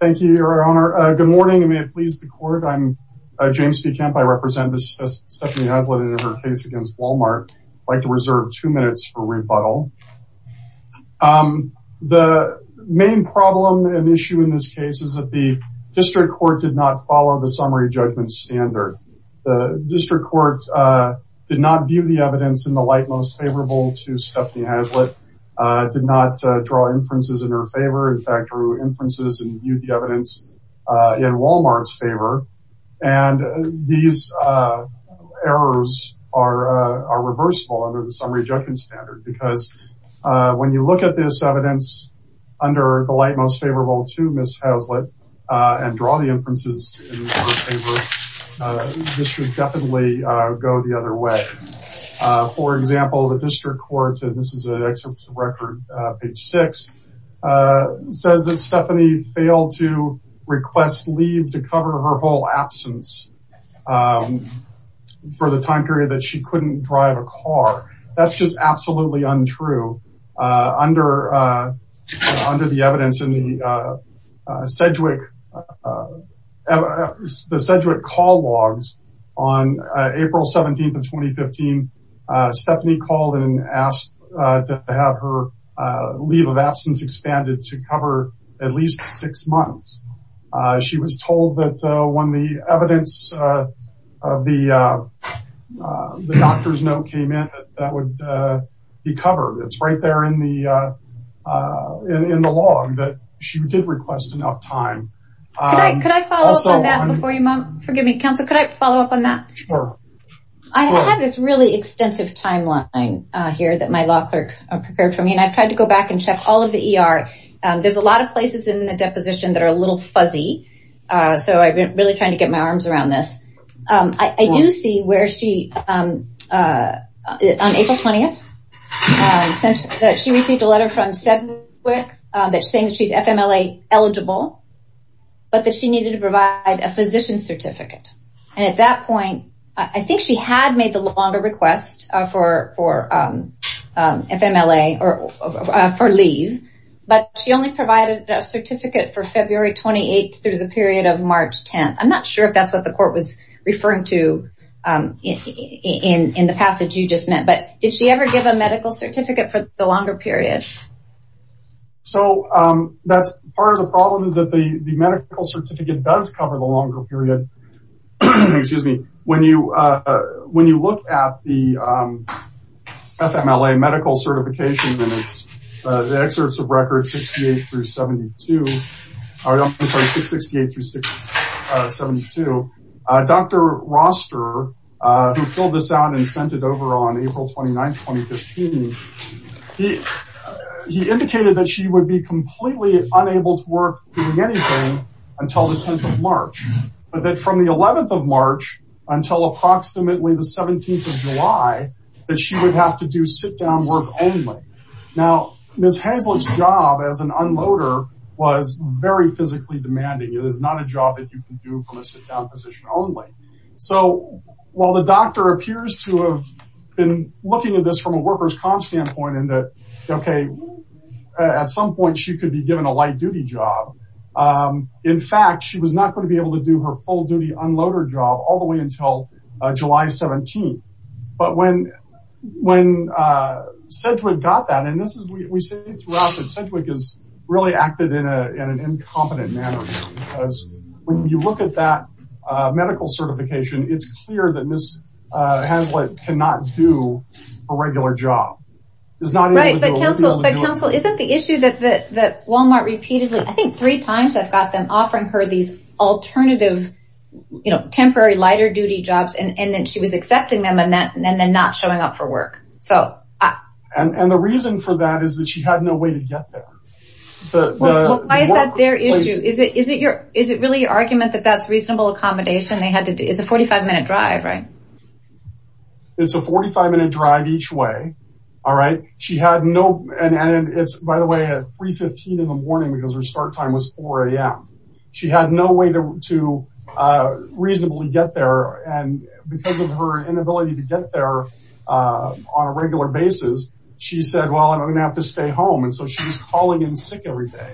Thank you, Your Honor. Good morning, and may it please the court. I'm James P. Kemp. I represent Stephanie Hazelett in her case against Wal-Mart. I'd like to reserve two minutes for rebuttal. The main problem and issue in this case is that the district court did not follow the summary judgment standard. The district court did not view the evidence in the light most favorable to Stephanie Hazelett, did not draw inferences in her favor. In fact, drew inferences and viewed the evidence in Wal-Mart's favor. And these errors are reversible under the summary judgment standard because when you look at this evidence under the light most favorable to Ms. Hazelett and draw the inferences in her favor, this should definitely go the other way. For example, the district court, and this is an excerpt from record, page six, says that Stephanie failed to request leave to cover her whole absence for the time period that she couldn't drive a car. That's just absolutely untrue under the evidence in the Sedgwick call logs on April 17th of 2015. Stephanie called and asked to have her leave of absence expanded to cover at least six months. She was told that when the evidence of the doctor's note came in, that would be covered. It's right there in the log that she did request enough time. Also- Could I follow up on that before you, forgive me, counsel, could I follow up on that? Sure. I have this really extensive timeline here that my law clerk prepared for me, and I've tried to go back and check all of the ER. There's a lot of places in the deposition that are a little fuzzy, so I've been really trying to get my arms around this. I do see where she, on April 20th, that she received a letter from Sedgwick that's saying that she's FMLA eligible, but that she needed to provide a physician certificate. And at that point, I think she had made the longer request for FMLA, or for leave, but she only provided a certificate for February 28th through the period of March 10th. I'm not sure if that's what the court was referring to in the passage you just meant, but did she ever give a medical certificate for the longer period? So, that's part of the problem is that the medical certificate does cover the longer period. Excuse me. When you look at the FMLA medical certification, and it's the excerpts of records 68 through 72, or I'm sorry, 668 through 72, Dr. Roster, who filled this out and sent it over on April 29th, 2015, he indicated that she would be completely unable to work doing anything until the 10th of March, but that from the 11th of March until approximately the 17th of July, that she would have to do sit-down work only. Now, Ms. Hazlitt's job as an unloader was very physically demanding. It is not a job that you can do from a sit-down position only. So, while the doctor appears to have been looking at this from a worker's comp standpoint in that, okay, at some point she could be given a light duty job. In fact, she was not going to be able to do her full duty unloader job all the way until July 17th. But when Sedgwick got that, and we see throughout that Sedgwick has really acted in an incompetent manner, because when you look at that medical certification, it's clear that Ms. Hazlitt cannot do a regular job. Is not able to do a regular job. Right, but counsel, isn't the issue that Walmart repeatedly, I think three times I've got them offering her these alternative, temporary lighter duty jobs, and then she was accepting them and then not showing up for work. So, I- And the reason for that is that she had no way to get there. The workplace- Well, why is that their issue? Is it really your argument that that's reasonable accommodation they had to do? It's a 45 minute drive, right? It's a 45 minute drive each way, all right? She had no, and by the way, I had 3.15 in the morning because her start time was 4 a.m. She had no way to reasonably get there. And because of her inability to get there on a regular basis, she said, well, I'm gonna have to stay home. And so she was calling in sick every day.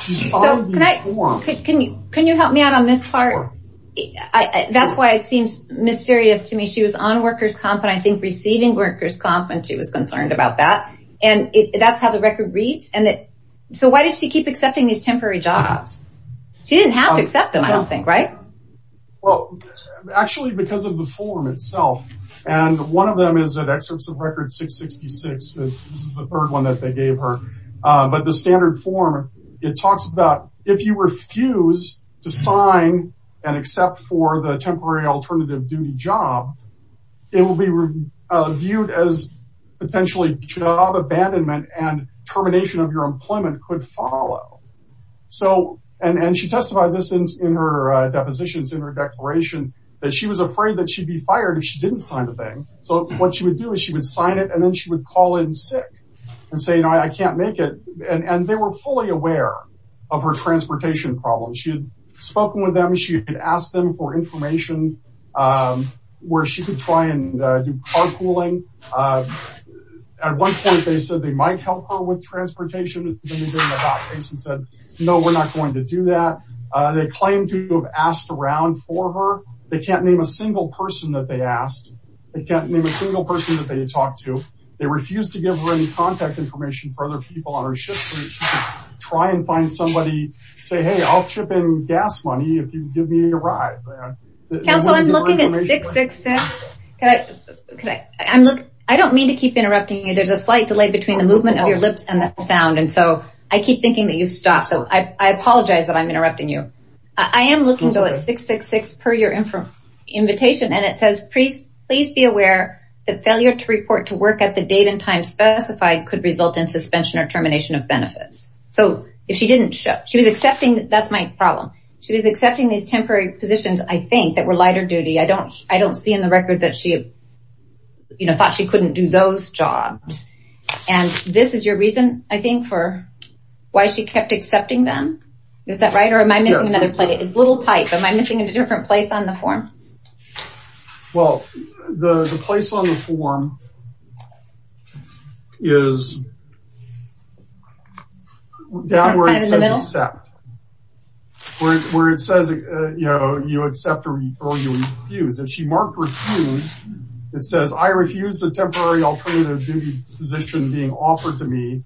She's following these forms. Can you help me out on this part? That's why it seems mysterious to me. She was on workers' comp, and I think receiving workers' comp, and she was concerned about that. And that's how the record reads. So why did she keep accepting these temporary jobs? She didn't have to accept them, I don't think, right? Well, actually, because of the form itself. And one of them is at excerpts of record 666. This is the third one that they gave her. But the standard form, it talks about if you refuse to sign and accept for the temporary alternative duty job, it will be viewed as potentially job abandonment and termination of your employment could follow. So, and she testified this in her depositions, in her declaration, that she was afraid that she'd be fired if she didn't sign the thing. So what she would do is she would sign it, and then she would call in sick and say, you know, I can't make it. And they were fully aware of her transportation problems. She had spoken with them. She had asked them for information where she could try and do carpooling. At one point, they said they might help her with transportation. Then they gave them a hot face and said, no, we're not going to do that. They claimed to have asked around for her. They can't name a single person that they asked. They can't name a single person that they talked to. They refused to give her any contact information for other people on her shift, so that she could try and find somebody, say, hey, I'll chip in gas money if you give me a ride. Counsel, I'm looking at 666. I don't mean to keep interrupting you. There's a slight delay between the movement of your lips and the sound, and so I keep thinking that you've stopped. So I apologize that I'm interrupting you. I am looking, though, at 666 per your invitation, and it says, please be aware that failure to report to work at the date and time specified could result in suspension or termination of benefits. So if she didn't show, she was accepting, that's my problem. She was accepting these temporary positions, I think, that were lighter duty. I don't see in the record that she thought she couldn't do those jobs. And this is your reason, I think, for why she kept accepting them? Is that right, or am I missing another place? It's a little tight, but am I missing a different place on the form? Well, the place on the form is down where it says accept. Where it says you accept or you refuse. If she marked refuse, it says, I refuse the temporary alternative duty position being offered to me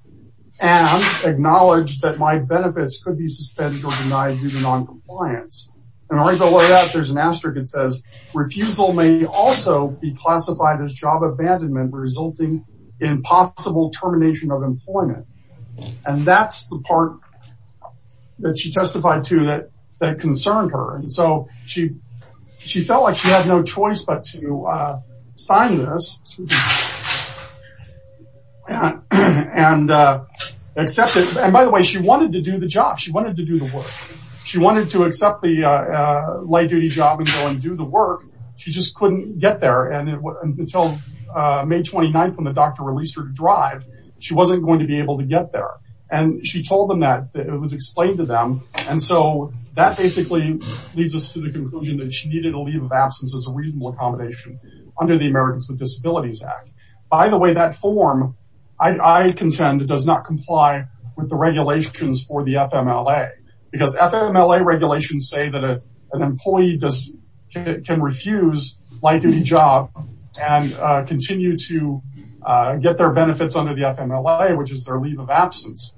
and acknowledge that my benefits could be suspended or denied due to noncompliance. And right below that, there's an asterisk that says, refusal may also be classified as job abandonment resulting in possible termination of employment. And that's the part that she testified to that concerned her. And so she felt like she had no choice but to sign this and accept it. And by the way, she wanted to do the job. She wanted to do the work. She wanted to accept the light duty job and go and do the work. She just couldn't get there. And until May 29th, when the doctor released her to drive, she wasn't going to be able to get there. And she told them that it was explained to them. And so that basically leads us to the conclusion that she needed a leave of absence as a reasonable accommodation under the Americans with Disabilities Act. By the way, that form, I contend, does not comply with the regulations for the FMLA. Because FMLA regulations say that an employee can refuse light duty job and continue to get their benefits under the FMLA, which is their leave of absence.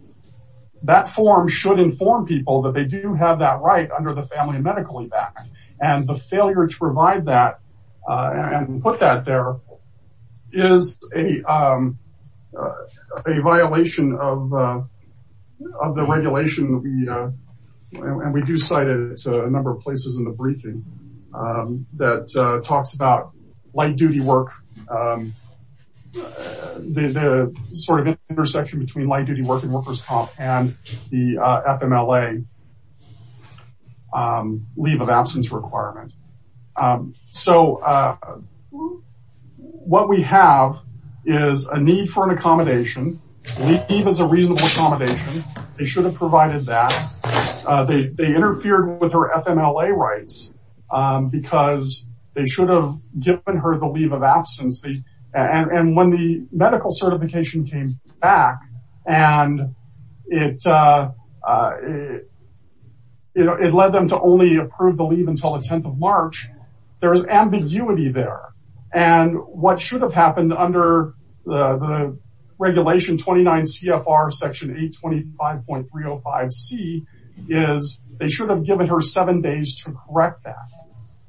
That form should inform people that they do have that right under the Family and Medical Evac. And the failure to provide that and put that there is a violation of the regulation. And we do cite it to a number of places in the briefing that talks about light duty work, the sort of intersection between light duty work and workers' comp and the FMLA leave of absence requirement. So what we have is a need for an accommodation. Leave is a reasonable accommodation. They should have provided that. They interfered with her FMLA rights because they should have given her the leave of absence. And when the medical certification came back and it led them to only approve the leave until the 10th of March, there was ambiguity there. And what should have happened under the regulation 29 CFR section 825.305C is they should have given her seven days to correct that.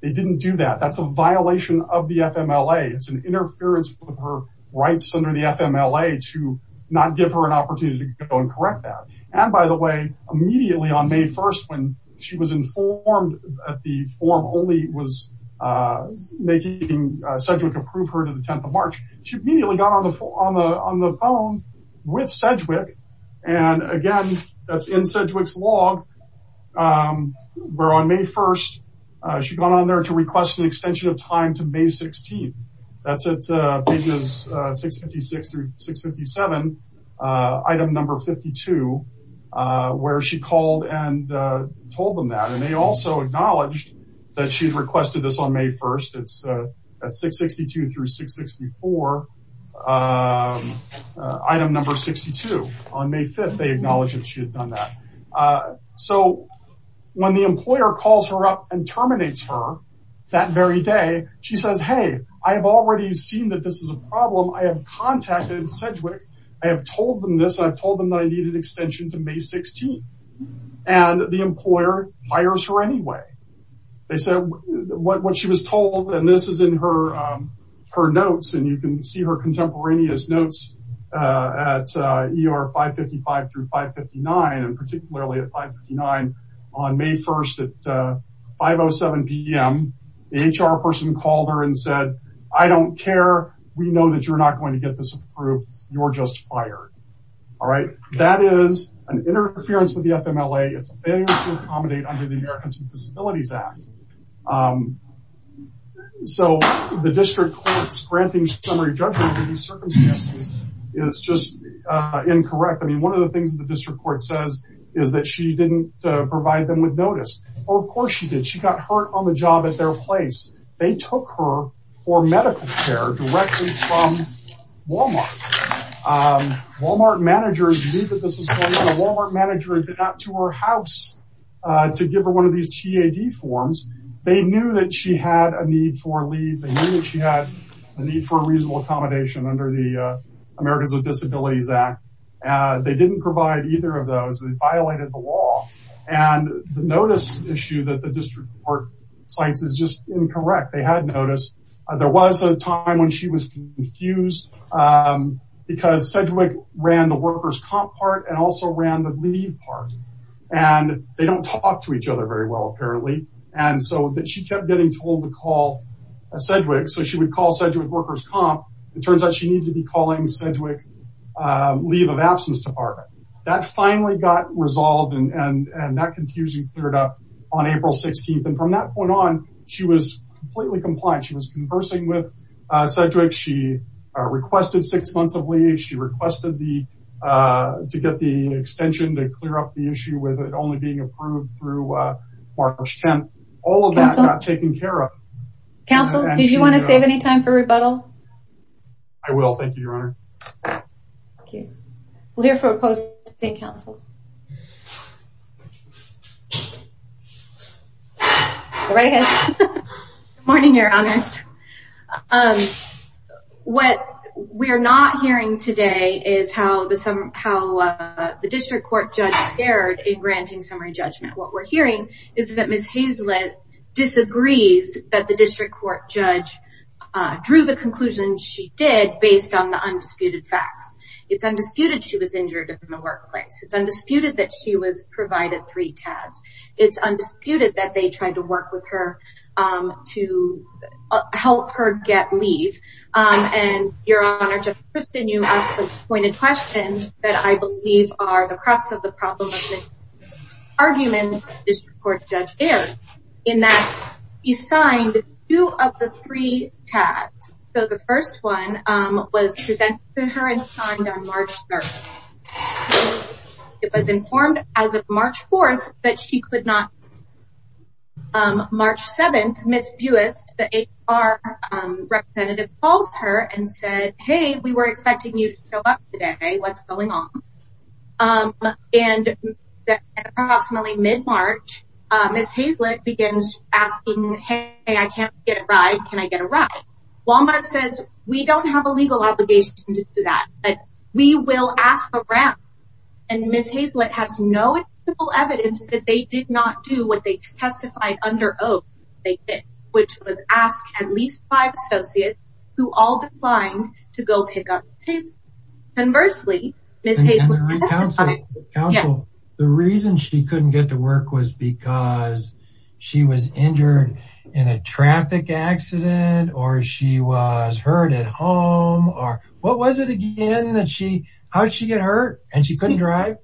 They didn't do that. That's a violation of the FMLA. It's an interference with her rights under the FMLA to not give her an opportunity to go and correct that. And by the way, immediately on May 1st, when she was informed that the form only was making Sedgwick approve her to the 10th of March, she immediately got on the phone with Sedgwick. And again, that's in Sedgwick's log, where on May 1st, she got on there to request an extension of time to May 16th. That's at pages 656 through 657, item number 52, where she called and told them that. And they also acknowledged that she'd requested this on May 1st. It's at 662 through 664, item number 62. On May 5th, they acknowledged that she had done that. So when the employer calls her up and terminates her that very day, she says, hey, I have already seen that this is a problem. I have contacted Sedgwick. I have told them this. I've told them that I needed an extension to May 16th. And the employer fires her anyway. They said what she was told, and this is in her notes, and you can see her contemporaneous notes at ER 555 through 559, and particularly at 559, on May 1st at 5.07 p.m., the HR person called her and said, I don't care. We know that you're not going to get this approved. You're just fired, all right? That is an interference with the FMLA. It's a failure to accommodate under the Americans with Disabilities Act. So the district court's granting summary judgment for these circumstances is just incorrect. I mean, one of the things that the district court says is that she didn't provide them with notice. Oh, of course she did. She got hurt on the job at their place. They took her for medical care directly from Walmart. Walmart managers knew that this was going on. The Walmart manager did not go to her house to give her one of these TAD forms. They knew that she had a need for leave. They knew that she had a need for reasonable accommodation under the Americans with Disabilities Act. They didn't provide either of those. They violated the law, and the notice issue that the district court cites is just incorrect. They had notice. There was a time when she was confused because Sedgwick ran the workers' comp part and also ran the leave part, and they don't talk to each other very well, apparently. And so she kept getting told to call Sedgwick. So she would call Sedgwick workers' comp. It turns out she needed to be calling Sedgwick leave of absence department. That finally got resolved, and that confusion cleared up on April 16th. And from that point on, she was completely compliant. She was conversing with Sedgwick. She requested six months of leave. She requested to get the extension to clear up the issue with it only being approved through March 10th. All of that not taken care of. Council, did you want to save any time for rebuttal? I will. Thank you, Your Honor. Thank you. We'll hear from a post-dictate counsel. Go right ahead. Good morning, Your Honors. What we're not hearing today is how the district court judge fared in granting summary judgment. What we're hearing is that Ms. Hazlett disagrees that the district court judge drew the conclusion she did based on the undisputed facts. It's undisputed she was injured in the workplace. It's undisputed that she was provided three TADs. It's undisputed that they tried to work with her to help her get leave. And, Your Honor, to continue on some pointed questions that I believe are the crux of the problem of this argument, the district court judge fared in that he signed two of the three TADs. So, the first one was presented to her and signed on March 3rd. It was informed as of March 4th that she could not. March 7th, Ms. Buist, the HR representative, called her and said, hey, we were expecting you to show up today. What's going on? And approximately mid-March, Ms. Hazlett begins asking, hey, I can't get a ride. Can I get a ride? Walmart says, we don't have a legal obligation to do that, but we will ask around. And Ms. Hazlett has no evidence that they did not do what they testified under oath they did, which was ask at least five associates who all declined to go pick up Ms. Hazlett. Conversely, Ms. Hazlett- Counsel, counsel, the reason she couldn't get to work was because she was injured in a traffic accident or she was hurt at home or what was it again that she, how did she get hurt and she couldn't drive?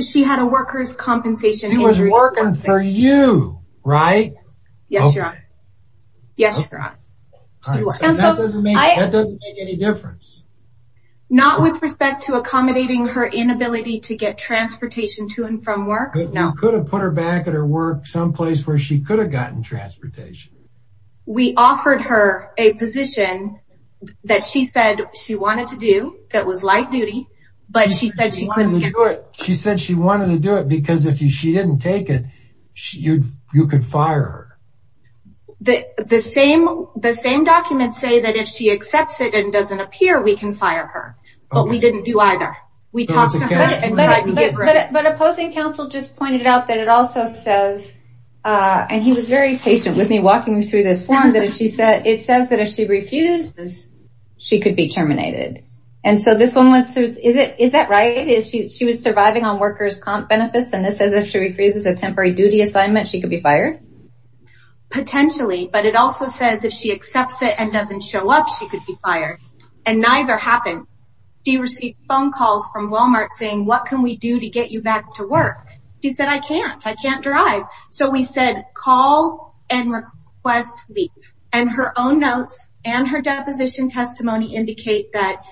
She had a worker's compensation injury. She was working for you, right? Yes, your honor. Yes, your honor. All right, so that doesn't make any difference. Not with respect to accommodating her inability to get transportation to and from work. No. You could have put her back at her work someplace where she could have gotten transportation. We offered her a position that she said she wanted to do that was light duty, but she said she couldn't do it. She said she wanted to do it because if she didn't take it, you could fire her. The same documents say that if she accepts it and doesn't appear, we can fire her, but we didn't do either. We talked to her and tried to get rid of her. But opposing counsel just pointed out that it also says, and he was very patient with me walking through this form, that it says that if she refuses, she could be terminated. And so this one, is that right? She was surviving on workers' comp benefits and this says if she refuses a temporary duty assignment, she could be fired? Potentially, but it also says if she accepts it and doesn't show up, she could be fired. And neither happened. She received phone calls from Walmart saying, what can we do to get you back to work? She said, I can't, I can't drive. So we said, call and request leave. And her own notes and her deposition testimony indicate that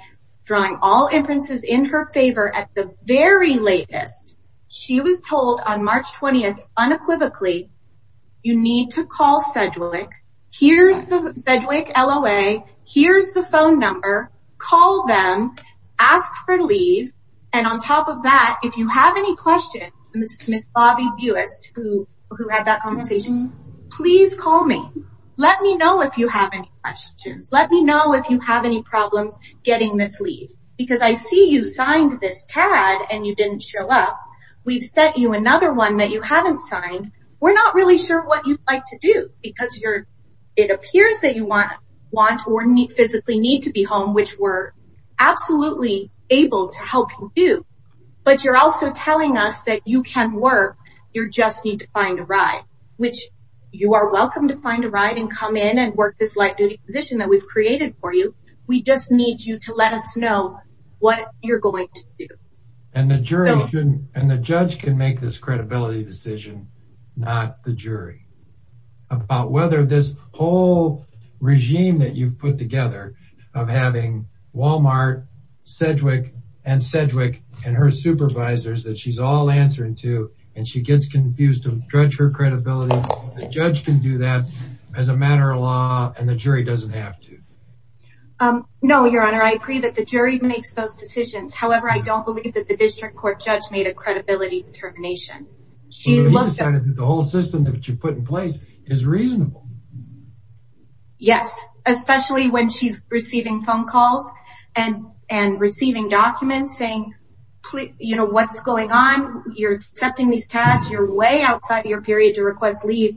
drawing all inferences in her favor at the very latest, she was told on March 20th, unequivocally, you need to call Sedgwick. Here's the Sedgwick LOA, here's the phone number, call them, ask for leave. And on top of that, if you have any questions, Ms. Bobby Buist, who had that conversation, please call me. Let me know if you have any questions. Let me know if you have any problems getting this leave. Because I see you signed this TAD and you didn't show up. We've sent you another one that you haven't signed. We're not really sure what you'd like to do because it appears that you want or physically need to be home, which we're absolutely able to help you do. But you're also telling us that you can work, you just need to find a ride, which you are welcome to find a ride and come in and work this light duty position that we've created for you. We just need you to let us know what you're going to do. And the judge can make this credibility decision, not the jury, about whether this whole regime that you've put together of having Walmart, Sedgwick, and Sedgwick and her supervisors that she's all answering to, and she gets confused to judge her credibility, the judge can do that as a matter of law and the jury doesn't have to. No, your honor, I agree that the jury makes those decisions. However, I don't believe that the district court judge made a credibility determination. She looked at- The whole system that you put in place is reasonable. Yes, especially when she's receiving phone calls and receiving documents saying, you know, what's going on? You're accepting these tasks, you're way outside your period to request leave,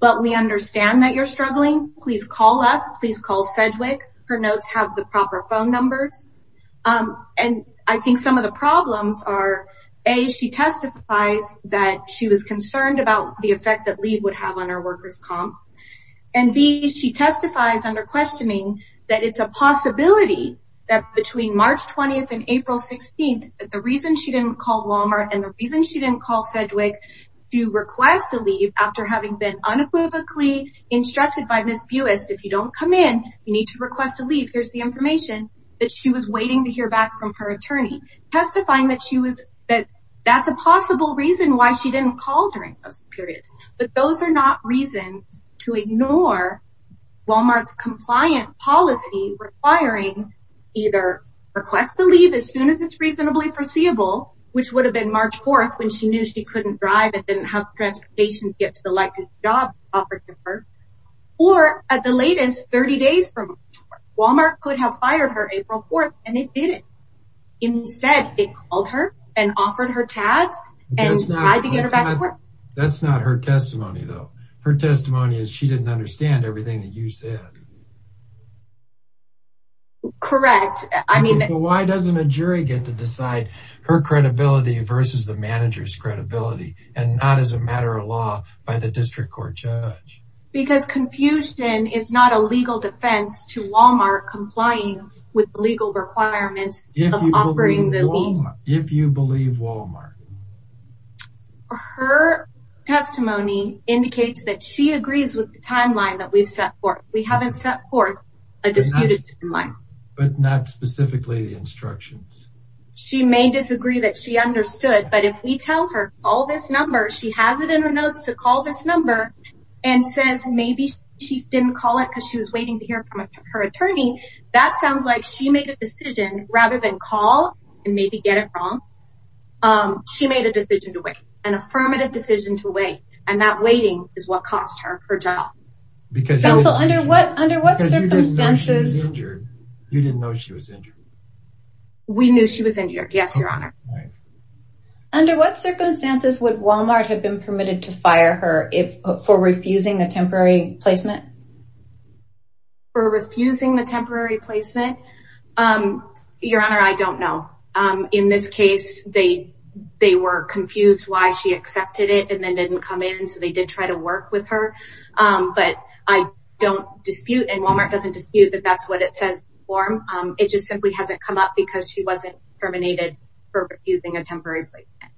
but we understand that you're struggling. Please call us, please call Sedgwick. Her notes have the proper phone numbers. And I think some of the problems are, A, she testifies that she was concerned about the effect that leave would have on her workers' comp. And B, she testifies under questioning that it's a possibility that between March 20th and April 16th, that the reason she didn't call Walmart and the reason she didn't call Sedgwick to request a leave after having been unequivocally instructed by Ms. Buist, if you don't come in, you need to request a leave, here's the information, that she was waiting to hear back from her attorney, testifying that that's a possible reason why she didn't call during those periods. But those are not reasons to ignore Walmart's compliant policy requiring either request the leave as soon as it's reasonably foreseeable, which would have been March 4th and didn't have transportation to get to the likely job offered to her, or at the latest, 30 days from now, Walmart could have fired her April 4th and it didn't. Instead, they called her and offered her tabs and tried to get her back to work. That's not her testimony though. Her testimony is she didn't understand everything that you said. Correct, I mean- Why doesn't a jury get to decide her credibility versus the manager's credibility and not as a matter of law by the district court judge? Because confusion is not a legal defense to Walmart complying with legal requirements of offering the leave. If you believe Walmart. Her testimony indicates that she agrees with the timeline that we've set forth. We haven't set forth a disputed timeline. But not specifically the instructions. She may disagree that she understood, but if we tell her, call this number, she has it in her notes to call this number and says, maybe she didn't call it because she was waiting to hear from her attorney. That sounds like she made a decision rather than call and maybe get it wrong. She made a decision to wait, an affirmative decision to wait. And that waiting is what cost her her job. Because- Counsel, under what circumstances- Because you didn't know she was injured. You didn't know she was injured. We knew she was injured, yes, your honor. All right. Under what circumstances would Walmart have been permitted to fire her for refusing the temporary placement? For refusing the temporary placement? Your honor, I don't know. In this case, they were confused why she accepted it and then didn't come in. So they did try to work with her. But I don't dispute and Walmart doesn't dispute that that's what it says on the form. It just simply hasn't come up because she wasn't terminated for refusing a temporary placement.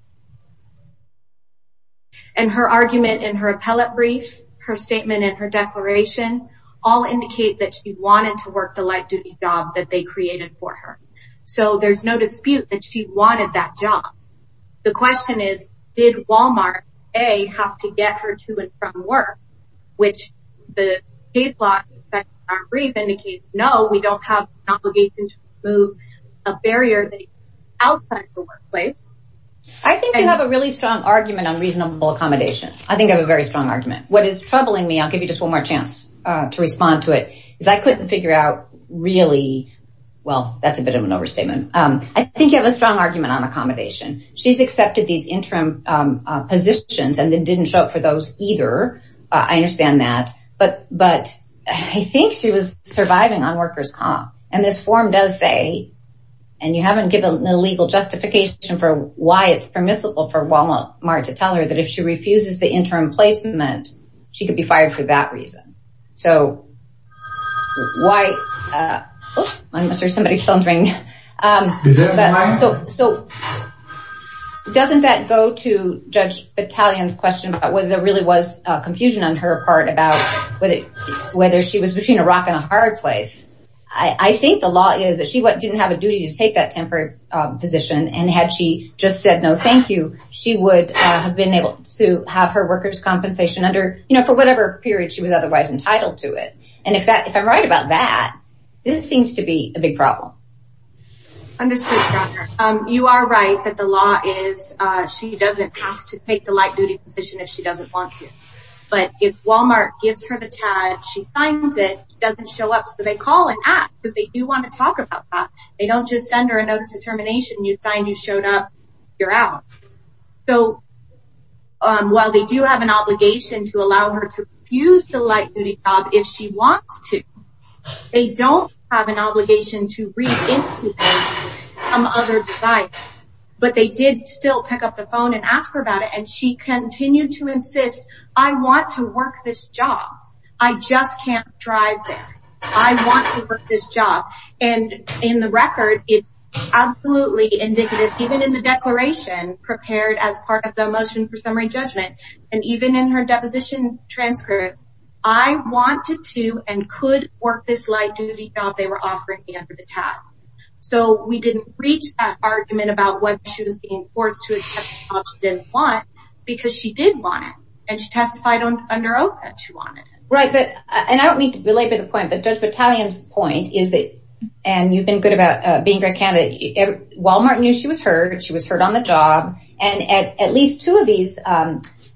And her argument in her appellate brief, her statement and her declaration all indicate that she wanted to work the light duty job that they created for her. So there's no dispute that she wanted that job. The question is, did Walmart, A, have to get her to and from work? Which the case law brief indicates, no, we don't have an obligation to remove a barrier that is outside the workplace. I think you have a really strong argument on reasonable accommodation. I think I have a very strong argument. What is troubling me, I'll give you just one more chance to respond to it, is I couldn't figure out really, well, that's a bit of an overstatement. I think you have a strong argument on accommodation. She's accepted these interim positions and then didn't show up for those either. I understand that. But I think she was surviving on workers' comp. And this form does say, and you haven't given an illegal justification for why it's permissible for Walmart to tell her that if she refuses the interim placement, she could be fired for that reason. So why, oops, I'm sure somebody's thundering. So doesn't that go to Judge Battalion's question about whether there really was confusion on her part about whether she was between a rock and a hard place? I think the law is that she didn't have a duty to take that temporary position and had she just said, no, thank you, she would have been able to have her workers' compensation under for whatever period she was otherwise entitled to it. And if I'm right about that, this seems to be a big problem. Understood, Your Honor. You are right that the law is, she doesn't have to take the light duty position if she doesn't want to. But if Walmart gives her the tag, she finds it, doesn't show up, so they call and act because they do want to talk about that. They don't just send her a notice of termination and you find you showed up, you're out. So while they do have an obligation to allow her to use the light duty job if she wants to, they don't have an obligation to reintroduce some other desire. But they did still pick up the phone and ask her about it. And she continued to insist, I want to work this job. I just can't drive there. I want to work this job. And in the record, it's absolutely indicative, even in the declaration prepared as part of the motion for summary judgment, and even in her deposition transcript, I wanted to and could work this light duty job they were offering me under the tag. So we didn't reach that argument about whether she was being forced to accept the job she didn't want because she did want it. And she testified under oath that she wanted it. Right, and I don't mean to belabor the point, but Judge Battalion's point is that, and you've been good about being very candid, Walmart knew she was heard, she was heard on the job. And at least two of these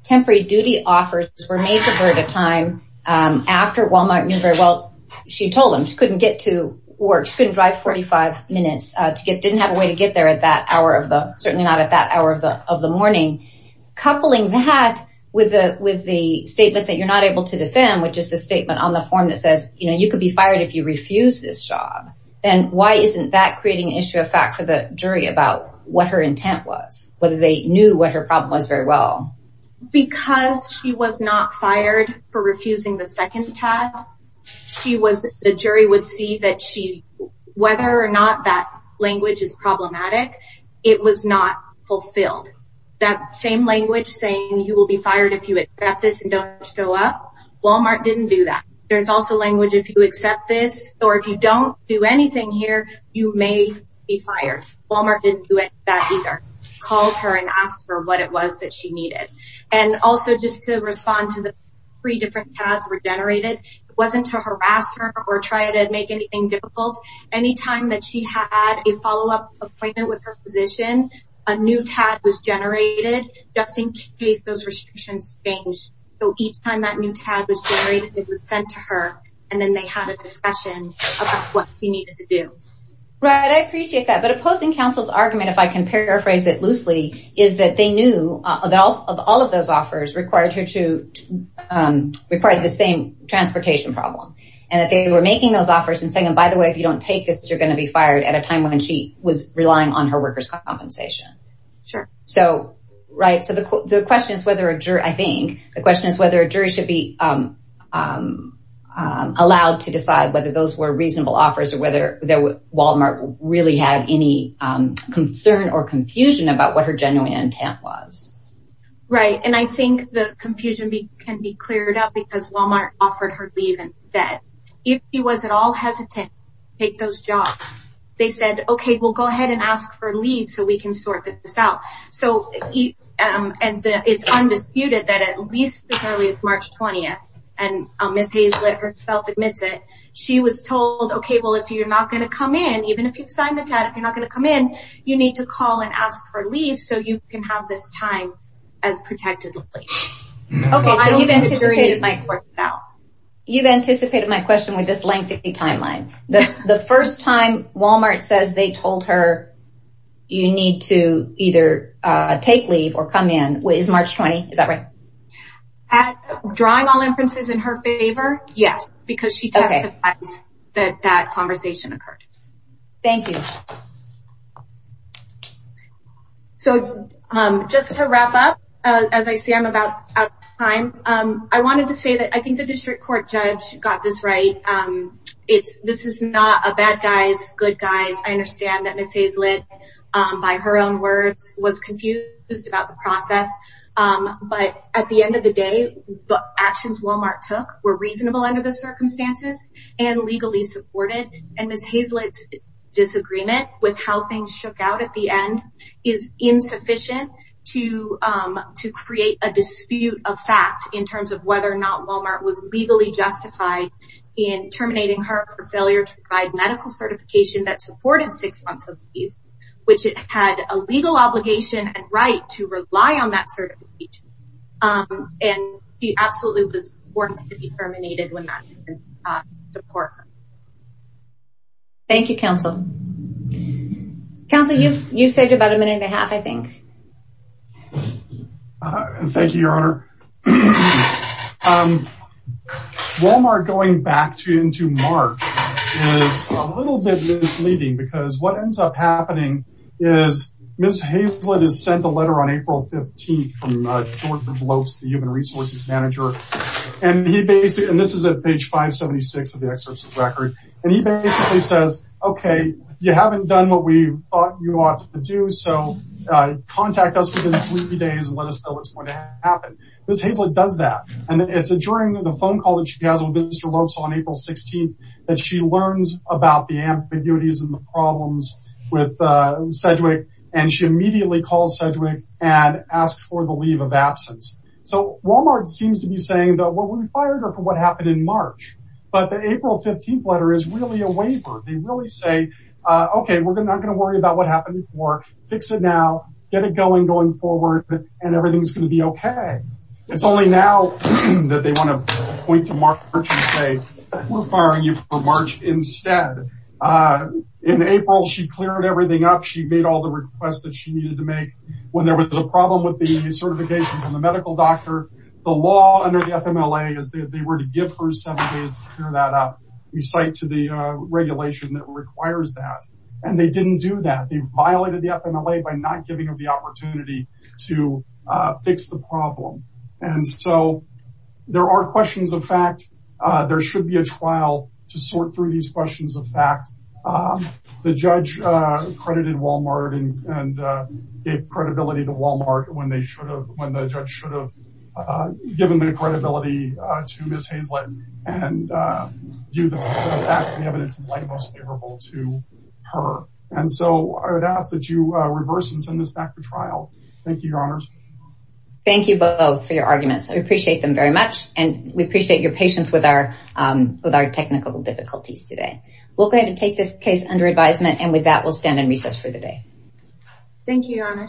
temporary duty offers were made to her at a time after Walmart knew very well, she told them she couldn't get to work, she couldn't drive 45 minutes, didn't have a way to get there at that hour of the, certainly not at that hour of the morning. Coupling that with the statement that you're not able to defend, which is the statement on the form that says, you could be fired if you refuse this job. And why isn't that creating an issue of fact for the jury about what her intent was? Whether they knew what her problem was very well. Because she was not fired for refusing the second tag, she was, the jury would see that she, whether or not that language is problematic, it was not fulfilled. That same language saying you will be fired if you accept this and don't show up, Walmart didn't do that. There's also language if you accept this, or if you don't do anything here, you may be fired. Walmart didn't do that either. Called her and asked her what it was that she needed. And also just to respond to the three different tags were generated, it wasn't to harass her or try to make anything difficult. Anytime that she had a follow-up appointment with her physician, a new tag was generated just in case those restrictions change. So each time that new tag was generated, it was sent to her and then they had a discussion about what she needed to do. Right, I appreciate that. But opposing counsel's argument, if I can paraphrase it loosely, is that they knew of all of those offers required her to, required the same transportation problem. And that they were making those offers and saying, by the way, if you don't take this, you're gonna be fired at a time when she was relying on her workers' compensation. Sure. So, right, so the question is whether a jury, I think, the question is whether a jury should be allowed to decide whether those were reasonable offers or whether Walmart really had any concern or confusion about what her genuine intent was. Right, and I think the confusion can be cleared up because Walmart offered her leave and that, if she was at all hesitant to take those jobs, they said, okay, we'll go ahead and ask for leave so we can sort this out. So, and it's undisputed that at least as early as March 20th and Ms. Hayes let herself admit to it, she was told, okay, well, if you're not gonna come in, even if you've signed the chat, if you're not gonna come in, you need to call and ask for leave so you can have this time as protected leave. Okay, so you've anticipated my question now. You've anticipated my question with this lengthy timeline. The first time Walmart says they told her you need to either take leave or come in is March 20th, is that right? Drawing all inferences in her favor, yes, because she testified that that conversation occurred. Thank you. So just to wrap up, as I say, I'm about out of time. I wanted to say that I think the district court judge got this right. This is not a bad guys, good guys. I understand that Ms. Hayes-Litt by her own words was confused about the process, but at the end of the day, the actions Walmart took were reasonable under the circumstances and legally supported. And Ms. Hayes-Litt's disagreement with how things shook out at the end is insufficient to create a dispute of fact in terms of whether or not Walmart was legally justified in terminating her for failure to provide medical certification that supported six months of leave, which it had a legal obligation and right to rely on that certification. And she absolutely was warned to be terminated when that was reported. Thank you, counsel. Counsel, you've saved about a minute and a half, I think. Thank you, your honor. So Walmart going back into March is a little bit misleading because what ends up happening is Ms. Hayes-Litt has sent a letter on April 15th from George Lopes, the human resources manager. And he basically, and this is at page 576 of the excerpt of the record. And he basically says, okay, you haven't done what we thought you ought to do. So contact us within three days and let us know what's going to happen. Ms. Hayes-Litt does that. And it's during the phone call that she has with Mr. Lopes on April 16th that she learns about the ambiguities and the problems with Sedgwick. And she immediately calls Sedgwick and asks for the leave of absence. So Walmart seems to be saying that, well, we fired her for what happened in March, but the April 15th letter is really a waiver. They really say, okay, we're not going to worry about what happened before. Fix it now, get it going going forward and everything's going to be okay. It's only now that they want to point to March and say, we're firing you for March instead. In April, she cleared everything up. She made all the requests that she needed to make. When there was a problem with the certifications and the medical doctor, the law under the FMLA is that they were to give her seven days to clear that up. We cite to the regulation that requires that. And they didn't do that. They violated the FMLA by not giving her the opportunity to fix the problem. And so there are questions of fact, there should be a trial to sort through these questions of fact. The judge credited Walmart and gave credibility to Walmart when the judge should have given the credibility to Ms. Hazlett and do the facts and evidence in the light most favorable to her. And so I would ask that you reverse and send this back for trial. Thank you, your honors. Thank you both for your arguments. I appreciate them very much. And we appreciate your patience with our technical difficulties today. We're going to take this case under advisement. And with that, we'll stand in recess for the day. Thank you, your honors.